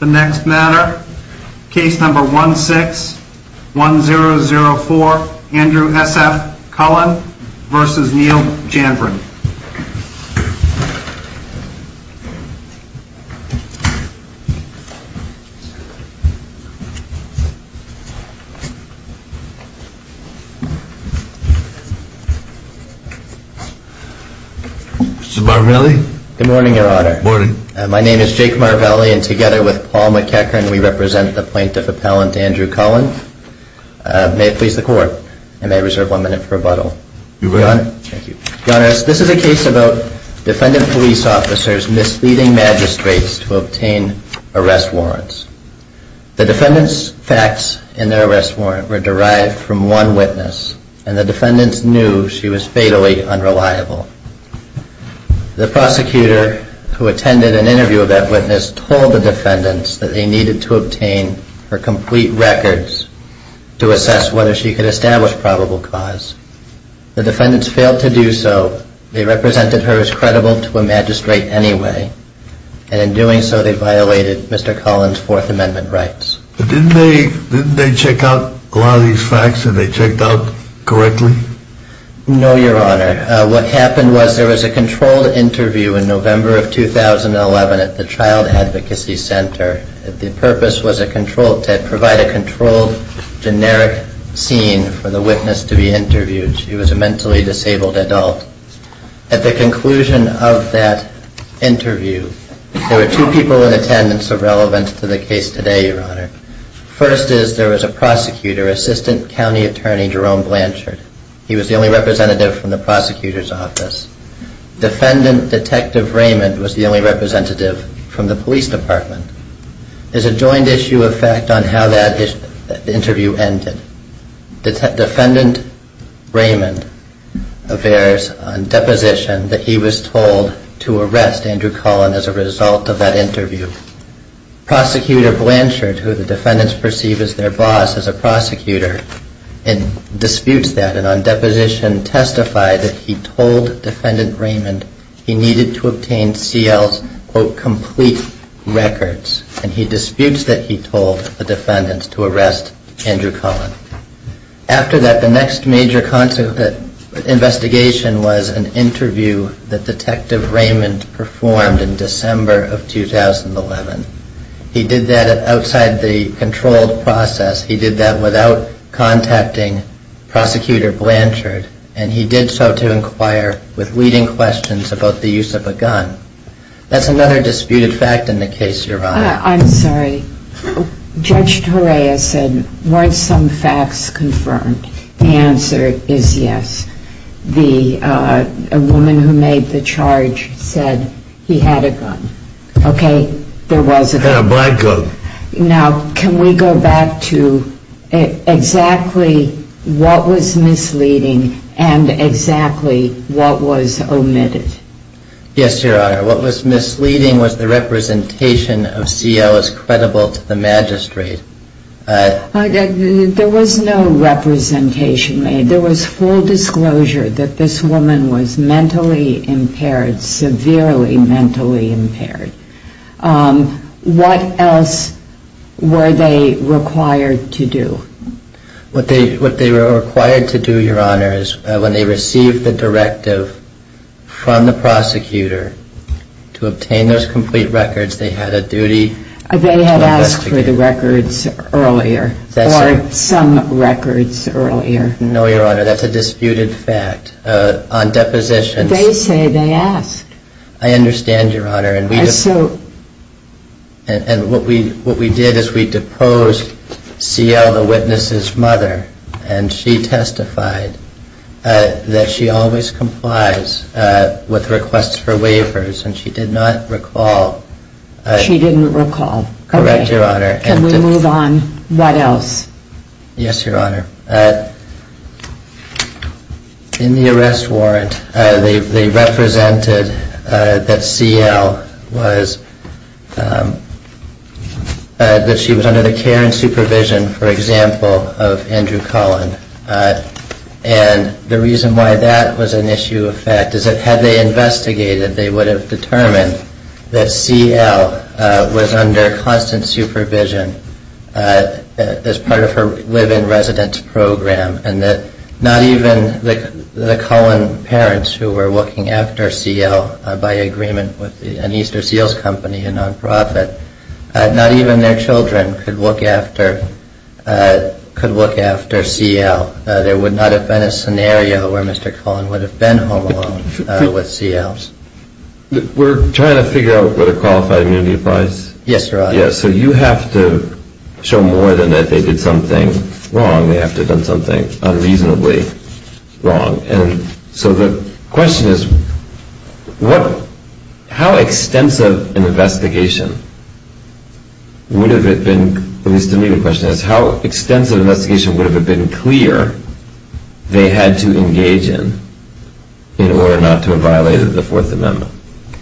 The next matter, case number 161004 Andrew S.F. Cullen v. Neil Janvrin Mr. Marvelli? Good morning, your honor. Good morning. My name is Jake Marvelli and together with Paul McEachern we represent the plaintiff appellant Andrew Cullen. May it please the court that this is a case about defendant police officers misleading magistrates to obtain arrest warrants. The defendants facts in their arrest warrant were derived from one witness and the defendants knew she was fatally unreliable. The prosecutor who attended an interview of that witness told the defendants that they needed to obtain her complete records to assess whether she could establish probable cause. The defendants failed to do so. They represented her as credible to a magistrate anyway and in doing so they violated Mr. Cullen's fourth amendment rights. Didn't they check out a lot of these facts and they checked out correctly? No, your honor. What happened was there was a controlled interview in November of 2011 at the Child Advocacy Center. The purpose was to provide a controlled generic scene for the witness to be interviewed. She was a mentally disabled adult. At the conclusion of that interview there were two people in attendance of relevance to the case today, your honor. First is there was a prosecutor, assistant county attorney Jerome Blanchard. He was the only representative from the prosecutors office. Defendant detective Raymond was the only representative from the police department. There is a joint issue of fact on how that interview ended. Defendant Raymond affairs on deposition that he was told to arrest Andrew Cullen as a result of that interview. Prosecutor Blanchard who the defendants perceive as their boss as a prosecutor disputes that and on deposition testified that he told defendant Raymond he needed to obtain CL's quote complete records and he disputes that he told the defendants to arrest Andrew Cullen. After that the next major investigation was an interview that detective Raymond performed in December of 2011. He did that outside the controlled process. He did that without contacting prosecutor Blanchard and he did so to inquire with leading questions about the use of a gun. That's another disputed fact in the case, your honor. I'm sorry. Judge Torea said weren't some facts confirmed. The answer is yes. The woman who made the charge said he had a gun. Okay. There was a gun. Now can we go back to exactly what was misleading and exactly what was omitted? Yes, your honor. What was misleading was the representation of CL as credible to the magistrate. There was no representation made. There was full disclosure that this woman was mentally impaired, severely mentally impaired. What else were they required to do? What they were required to do, your honor, is when they received the directive from the prosecutor to obtain those complete records, they had a duty to investigate. They had asked for the records earlier or some records earlier. No, your honor. That's a disputed fact. On deposition. They say they asked. I understand, your honor. And what we did is we deposed CL, the witness's mother, and she testified that she always complies with requests for waivers and she did not recall. She didn't recall. Correct, your honor. Can we move on? What else? Yes, your honor. In the arrest warrant, they represented that CL was, that she was under the care and supervision, for example, of Andrew Cullen. And the reason why that was an issue of fact is that had they investigated, they would have determined that CL was under constant supervision as part of her live-in residence program and that not even the Cullen parents who were looking after CL by agreement with an Easter Seals company, a nonprofit, not even their children could look after CL. There would not have been a scenario where Mr. Cullen would have been home alone with CL's. We're trying to figure out whether qualified immunity applies? Yes, your honor. So you have to show more than that they did something wrong. They have to have done something unreasonably wrong. And so the question is, how extensive an investigation would have it been, at least to me the question is, how extensive an investigation would have it been clear they had to engage in in order not to have violated the Fourth Amendment?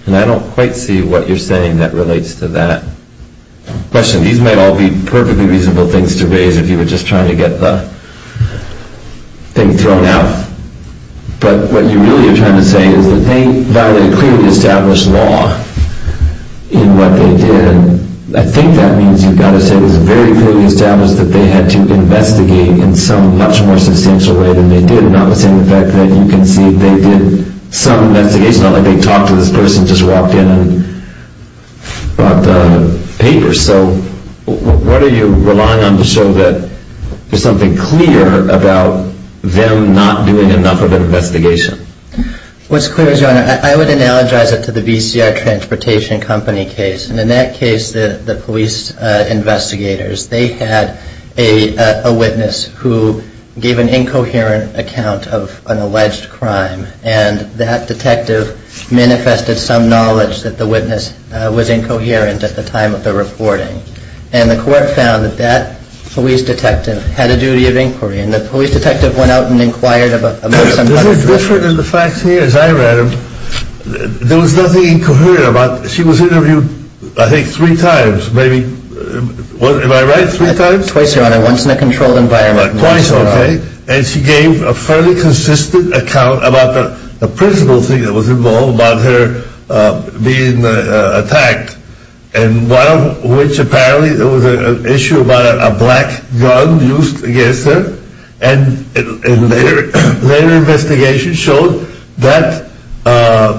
And I don't quite see what you're saying that relates to that question. These might all be perfectly reasonable things to raise if you were just trying to get the thing thrown out. But what you really are trying to say is that they violated a clearly established law in what they did. And I think that means you've got to say it was very clearly established that they had to investigate in some much more substantial way than they did, notwithstanding the fact that you can see they did some investigation. It's not like they talked to this person, just walked in and brought the papers. So what are you relying on to show that there's something clear about them not doing enough of an investigation? What's clear is, your honor, I would analogize it to the VCR Transportation Company case. And in that case, the police investigators, they had a witness who gave an incoherent account of an alleged crime. And that detective manifested some knowledge that the witness was incoherent at the time of the reporting. And the court found that that police detective had a duty of inquiry. And the police detective went out and inquired about some other things. Was it different in the facts here as I read them? There was nothing incoherent about it. She was interviewed, I think, three times, maybe. Am I right? Three times? Twice, your honor. Once in a controlled environment. Twice, okay. And she gave a fairly consistent account about the principal thing that was involved about her being attacked. And one of which, apparently, there was an issue about a black gun used against her. And later investigations showed that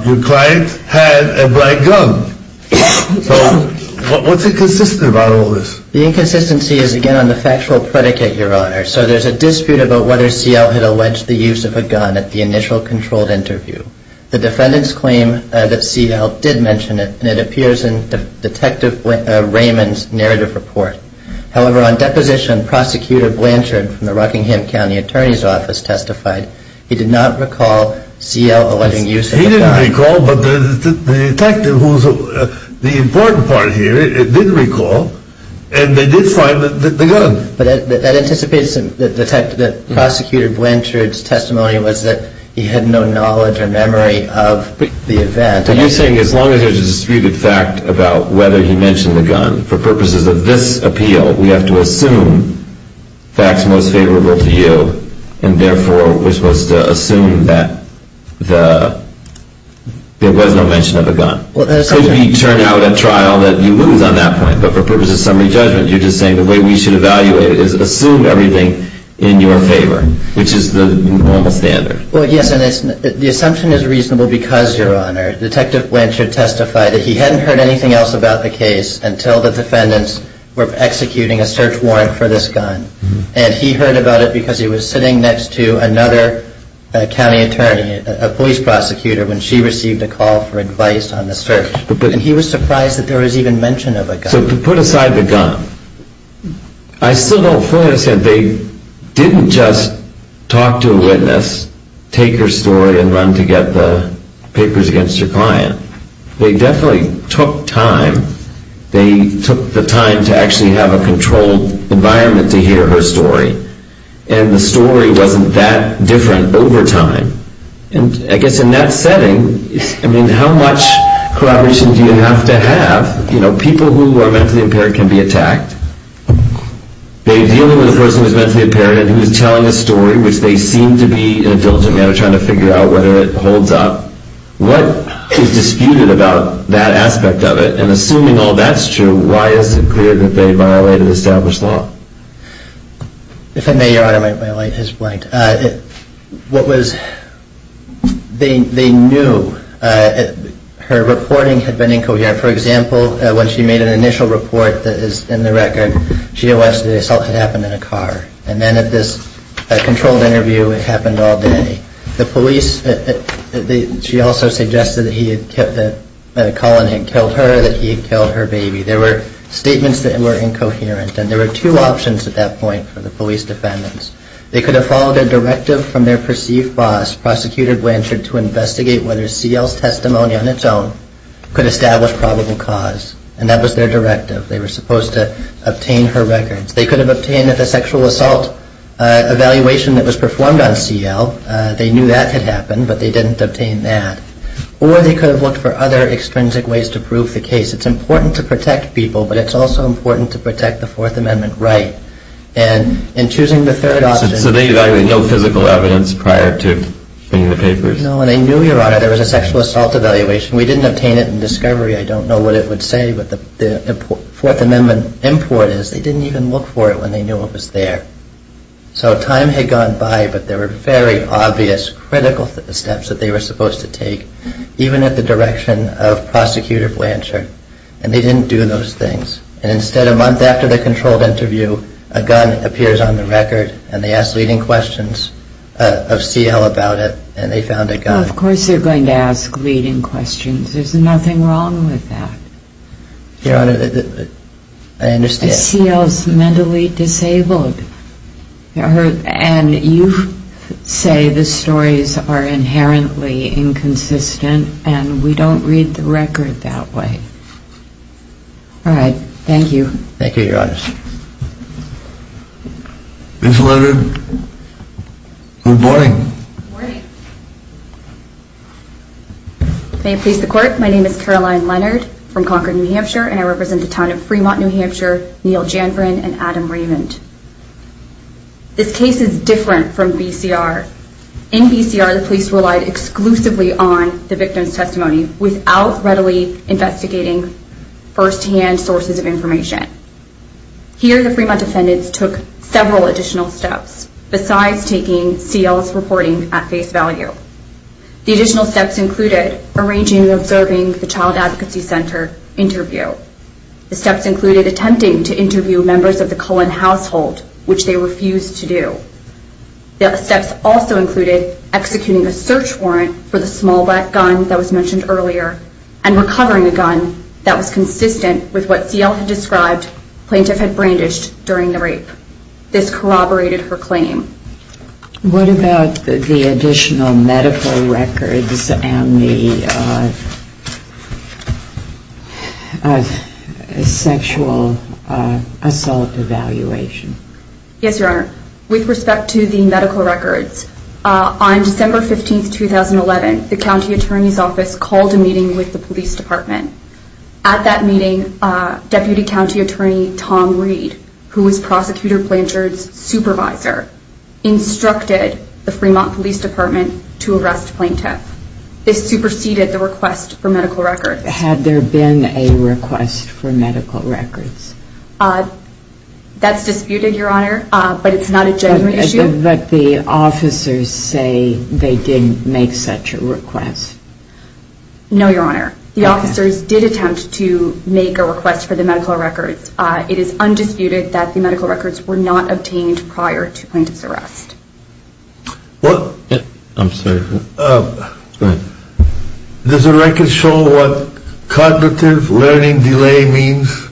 your client had a black gun. So what's inconsistent about all this? The inconsistency is, again, on the factual predicate, your honor. So there's a dispute about whether C.L. had alleged the use of a gun at the initial controlled interview. The defendants claim that C.L. did mention it, and it appears in Detective Raymond's narrative report. However, on deposition, Prosecutor Blanchard from the Rockingham County Attorney's Office testified he did not recall C.L. alleging use of the gun. He didn't recall, but the detective, who's the important part here, did recall, and they did find the gun. But that anticipates that Prosecutor Blanchard's testimony was that he had no knowledge or memory of the event. So you're saying as long as there's a disputed fact about whether he mentioned the gun, for purposes of this appeal, we have to assume facts most favorable to you, and therefore, we're supposed to assume that there was no mention of a gun? Because we turn out at trial that you lose on that point, but for purposes of summary judgment, you're just saying the way we should evaluate it is assume everything in your favor, which is the normal standard. Well, yes, and the assumption is reasonable because, Your Honor, Detective Blanchard testified that he hadn't heard anything else about the case until the defendants were executing a search warrant for this gun. And he heard about it because he was sitting next to another county attorney, a police prosecutor, when she received a call for advice on the search. And he was surprised that there was even mention of a gun. So to put aside the gun, I still don't fully understand. They didn't just talk to a witness, take her story, and run to get the papers against her client. They definitely took time. They took the time to actually have a controlled environment to hear her story. And the story wasn't that different over time. And I guess in that setting, I mean, how much corroboration do you have to have? You know, people who are mentally impaired can be attacked. They're dealing with a person who's mentally impaired and who's telling a story, which they seem to be, in a diligent manner, trying to figure out whether it holds up. What is disputed about that aspect of it? And assuming all that's true, why is it clear that they violated established law? If I may, Your Honor, my light is blanked. What was, they knew her reporting had been incoherent. For example, when she made an initial report that is in the record, she had watched the assault had happened in a car. And then at this controlled interview, it happened all day. The police, she also suggested that he had, that a call-in had killed her, that he had killed her baby. There were statements that were incoherent. And there were two options at that point for the police defendants. They could have followed a directive from their perceived boss, Prosecutor Blanchard, to investigate whether CL's testimony on its own could establish probable cause. And that was their directive. They were supposed to obtain her records. They could have obtained the sexual assault evaluation that was performed on CL. They knew that had happened, but they didn't obtain that. Or they could have looked for other extrinsic ways to prove the case. It's important to protect people, but it's also important to protect the Fourth Amendment right. And in choosing the third option... So they evaluated no physical evidence prior to seeing the papers? No, and they knew, Your Honor, there was a sexual assault evaluation. We didn't obtain it in discovery. I don't know what it would say, what the Fourth Amendment import is. They didn't even look for it when they knew it was there. So time had gone by, but there were very obvious, critical steps that they were supposed to take, even at the direction of Prosecutor Blanchard. And they didn't do those things. And instead, a month after the controlled interview, a gun appears on the record, and they ask leading questions of CL about it, and they found a gun. Well, of course they're going to ask leading questions. There's nothing wrong with that. Your Honor, I understand. CL's mentally disabled. And you say the stories are inherently inconsistent, and we don't read the record that way. All right. Thank you. Thank you, Your Honor. Ms. Leonard, good morning. Good morning. May it please the Court, my name is Caroline Leonard from Concord, New Hampshire, and I represent the town of Fremont, New Hampshire, Neal Janvran and Adam Raymond. This case is different from BCR. In BCR, the police relied exclusively on the victim's testimony without readily investigating firsthand sources of information. Here, the Fremont defendants took several additional steps, besides taking CL's reporting at face value. The additional steps included arranging and observing the Child Advocacy Center interview. The steps included attempting to interview members of the Cullen household, which they refused to do. The steps also included executing a search warrant for the small black gun that was mentioned earlier and recovering a gun that was consistent with what CL had described plaintiff had brandished during the rape. This corroborated her claim. What about the additional medical records and the sexual assault evaluation? Yes, Your Honor. With respect to the medical records, on December 15, 2011, the County Attorney's Office called a meeting with the Police Department. At that meeting, Deputy County Attorney Tom Reed, who was Prosecutor Blanchard's supervisor, instructed the Fremont Police Department to arrest plaintiff. This superseded the request for medical records. Had there been a request for medical records? That's disputed, Your Honor, but it's not a genuine issue. But the officers say they didn't make such a request. No, Your Honor. The officers did attempt to make a request for the medical records. It is undisputed that the medical records were not obtained prior to plaintiff's arrest. I'm sorry. Does the record show what cognitive learning delay means?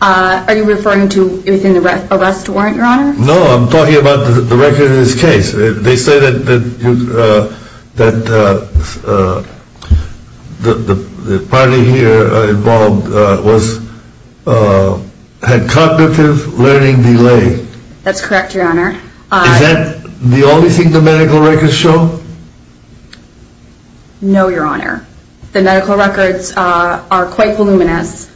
Are you referring to within the arrest warrant, Your Honor? No, I'm talking about the record in this case. They say that the party here involved had cognitive learning delay. That's correct, Your Honor. Is that the only thing the medical records show? No, Your Honor. The medical records are quite voluminous.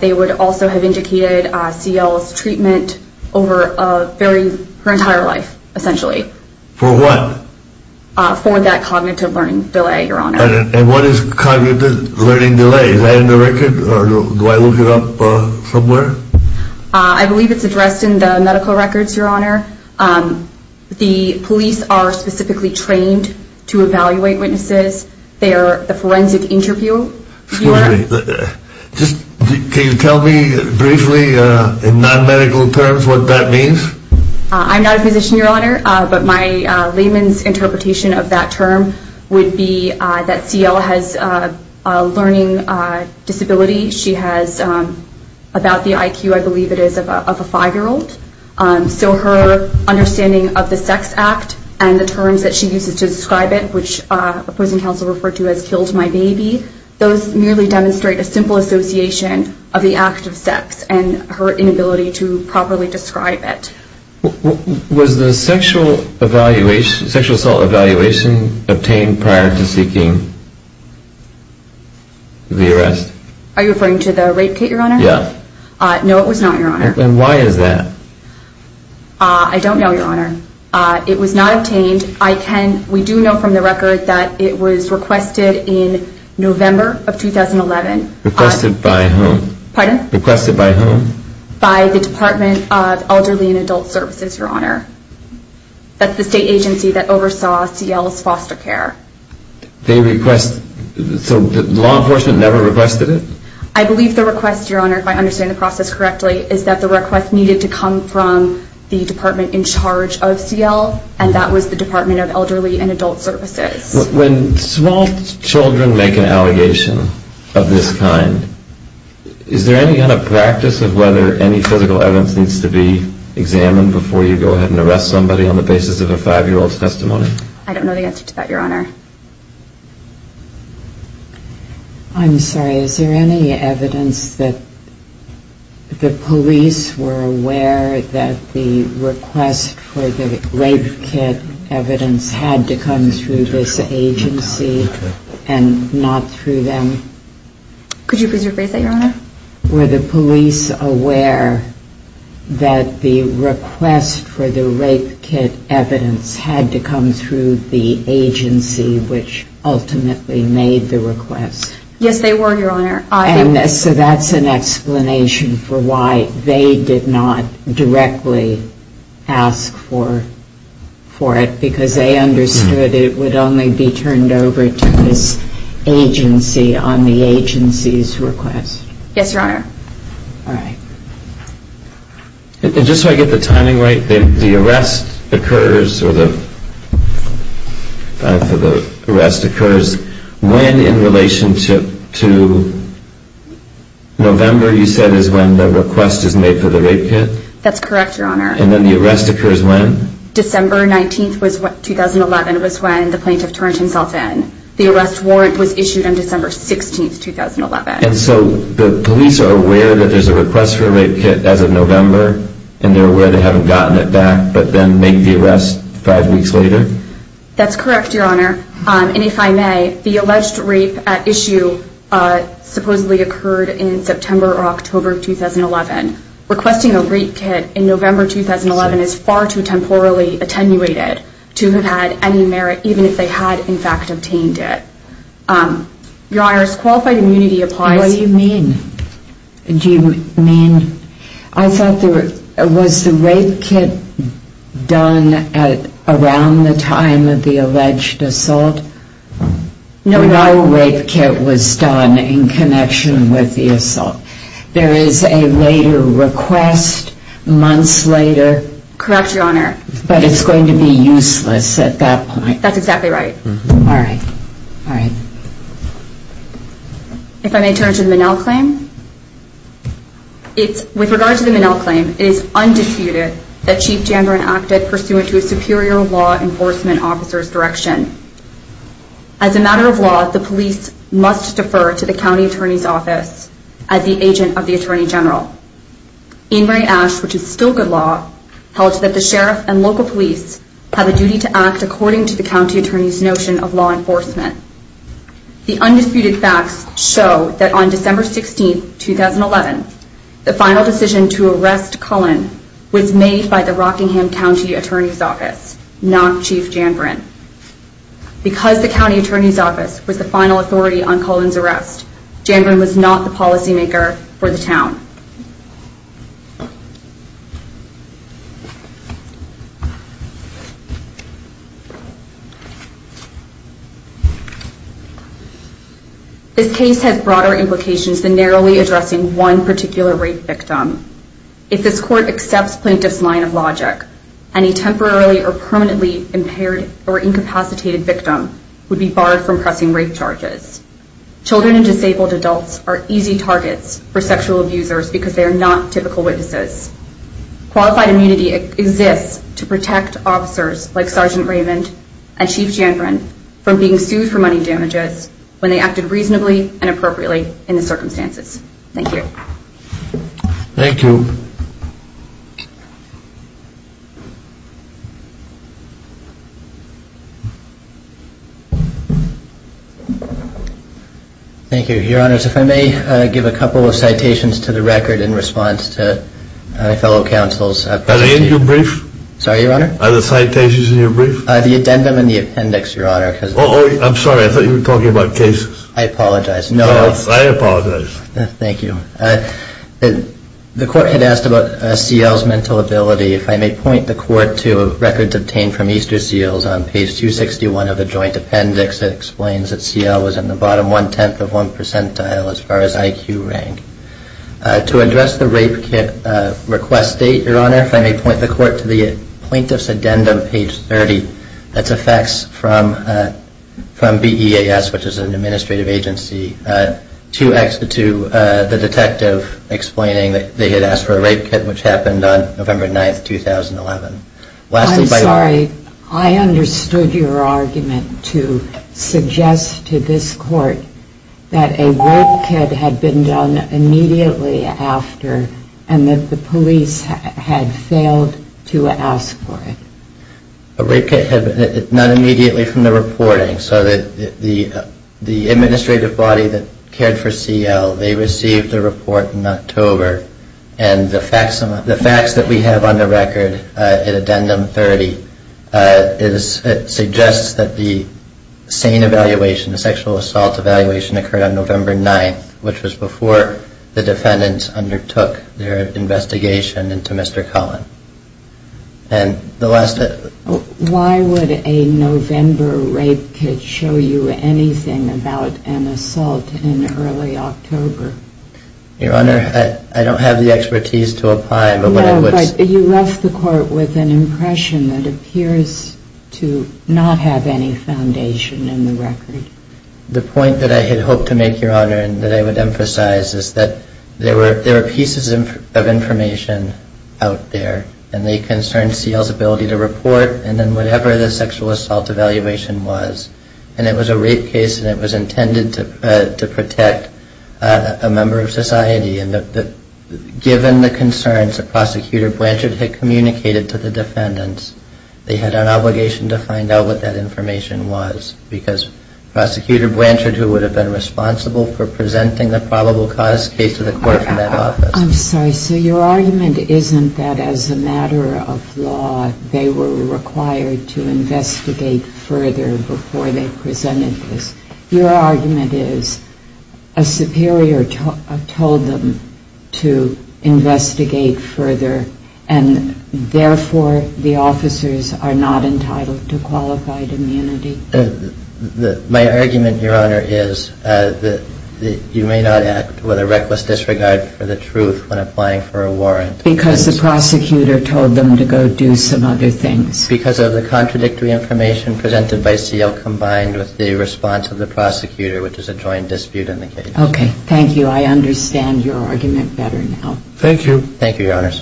They would also have indicated CL's treatment over her entire life, essentially. For what? For that cognitive learning delay, Your Honor. And what is cognitive learning delay? Is that in the record, or do I look it up somewhere? I believe it's addressed in the medical records, Your Honor. The police are specifically trained to evaluate witnesses. They are the forensic interviewer. Can you tell me briefly, in non-medical terms, what that means? I'm not a physician, Your Honor, but my layman's interpretation of that term would be that CL has a learning disability. She has about the IQ, I believe it is, of a five-year-old. So her understanding of the sex act and the terms that she uses to describe it, which opposing counsel referred to as killed my baby, those merely demonstrate a simple association of the act of sex and her inability to properly describe it. Was the sexual assault evaluation obtained prior to seeking the arrest? Are you referring to the rape, Kate, Your Honor? Yeah. No, it was not, Your Honor. And why is that? I don't know, Your Honor. It was not obtained. We do know from the record that it was requested in November of 2011. Requested by whom? Pardon? Requested by whom? By the Department of Elderly and Adult Services, Your Honor. That's the state agency that oversaw CL's foster care. They request, so law enforcement never requested it? I believe the request, Your Honor, if I understand the process correctly, is that the request needed to come from the department in charge of CL, and that was the Department of Elderly and Adult Services. When small children make an allegation of this kind, is there any kind of practice of whether any physical evidence needs to be examined before you go ahead and arrest somebody on the basis of a five-year-old's testimony? I don't know the answer to that, Your Honor. I'm sorry. Is there any evidence that the police were aware that the request for the rape kit evidence had to come through this agency and not through them? Could you rephrase that, Your Honor? Were the police aware that the request for the rape kit evidence had to come through the agency which ultimately made the request? Yes, they were, Your Honor. So that's an explanation for why they did not directly ask for it, because they understood it would only be turned over to this agency on the agency's request. Yes, Your Honor. All right. Just so I get the timing right, the arrest occurs when in relationship to November, you said, is when the request is made for the rape kit? That's correct, Your Honor. And then the arrest occurs when? December 19, 2011 was when the plaintiff turned himself in. The arrest warrant was issued on December 16, 2011. And so the police are aware that there's a request for a rape kit as of November, and they're aware they haven't gotten it back but then make the arrest five weeks later? That's correct, Your Honor. And if I may, the alleged rape at issue supposedly occurred in September or October of 2011. Requesting a rape kit in November 2011 is far too temporally attenuated to have had any merit, even if they had in fact obtained it. Your Honor, as qualified immunity applies. What do you mean? Do you mean? I thought there was the rape kit done around the time of the alleged assault? No. No rape kit was done in connection with the assault. There is a later request, months later. Correct, Your Honor. But it's going to be useless at that point. That's exactly right. All right. All right. If I may turn to the Minnell claim. With regard to the Minnell claim, it is undisputed that Chief Janderin acted pursuant to a superior law enforcement officer's direction. As a matter of law, the police must defer to the county attorney's office as the agent of the Attorney General. Ingray-Ash, which is still good law, held that the sheriff and local police have a duty to act according to the county attorney's notion of law enforcement. The undisputed facts show that on December 16, 2011, the final decision to arrest Cullen was made by the Rockingham County Attorney's Office, not Chief Janderin. Because the county attorney's office was the final authority on Cullen's arrest, Janderin was not the policymaker for the town. This case has broader implications than narrowly addressing one particular rape victim. If this court accepts Plaintiff's line of logic, any temporarily or permanently impaired or incapacitated victim would be barred from pressing rape charges. Children and disabled adults are easy targets for sexual abusers because they are not typical witnesses. Qualified immunity exists to protect officers like Sergeant Raymond and Chief Janderin from being sued for money damages when they acted reasonably and appropriately in the circumstances. Thank you. Thank you. Thank you, Your Honors. If I may give a couple of citations to the record in response to my fellow counsel's presentation. Are they in your brief? Sorry, Your Honor? Are the citations in your brief? The addendum and the appendix, Your Honor. Oh, I'm sorry, I thought you were talking about cases. I apologize. No, I apologize. Thank you. The court had asked about CL's mental ability. If I may point the court to records obtained from Easterseals on page 261 of the joint appendix, it explains that CL was in the bottom one-tenth of one percentile as far as IQ rank. To address the rape request date, Your Honor, if I may point the court to the Plaintiff's addendum, page 30, that's a fax from BEAS, which is an administrative agency, to the detective explaining that they had asked for a rape kit, which happened on November 9, 2011. I'm sorry. I understood your argument to suggest to this court that a rape kit had been done immediately after and that the police had failed to ask for it. A rape kit had been done immediately from the reporting, so that the administrative body that cared for CL, they received the report in October, and the fax that we have on the record in addendum 30 suggests that the SANE evaluation, the sexual assault evaluation, occurred on November 9, which was before the defendants undertook their investigation into Mr. Cullen. Why would a November rape kit show you anything about an assault in early October? Your Honor, I don't have the expertise to apply. No, but you left the court with an impression that appears to not have any foundation in the record. The point that I had hoped to make, Your Honor, and that I would emphasize, is that there were pieces of information out there, and they concerned CL's ability to report and then whatever the sexual assault evaluation was. And it was a rape case, and it was intended to protect a member of society. And given the concerns that Prosecutor Blanchard had communicated to the defendants, they had an obligation to find out what that information was, because Prosecutor Blanchard, who would have been responsible for presenting the probable cause case to the court from that office. I'm sorry. So your argument isn't that as a matter of law, they were required to investigate further before they presented this. Your argument is a superior told them to investigate further, and therefore the officers are not entitled to qualified immunity? My argument, Your Honor, is that you may not act with a reckless disregard for the truth when applying for a warrant. Because the prosecutor told them to go do some other things? Because of the contradictory information presented by CL combined with the response of the prosecutor, which is a joint dispute in the case. Okay. Thank you. I understand your argument better now. Thank you. Thank you, Your Honors. Thank you, Your Honor.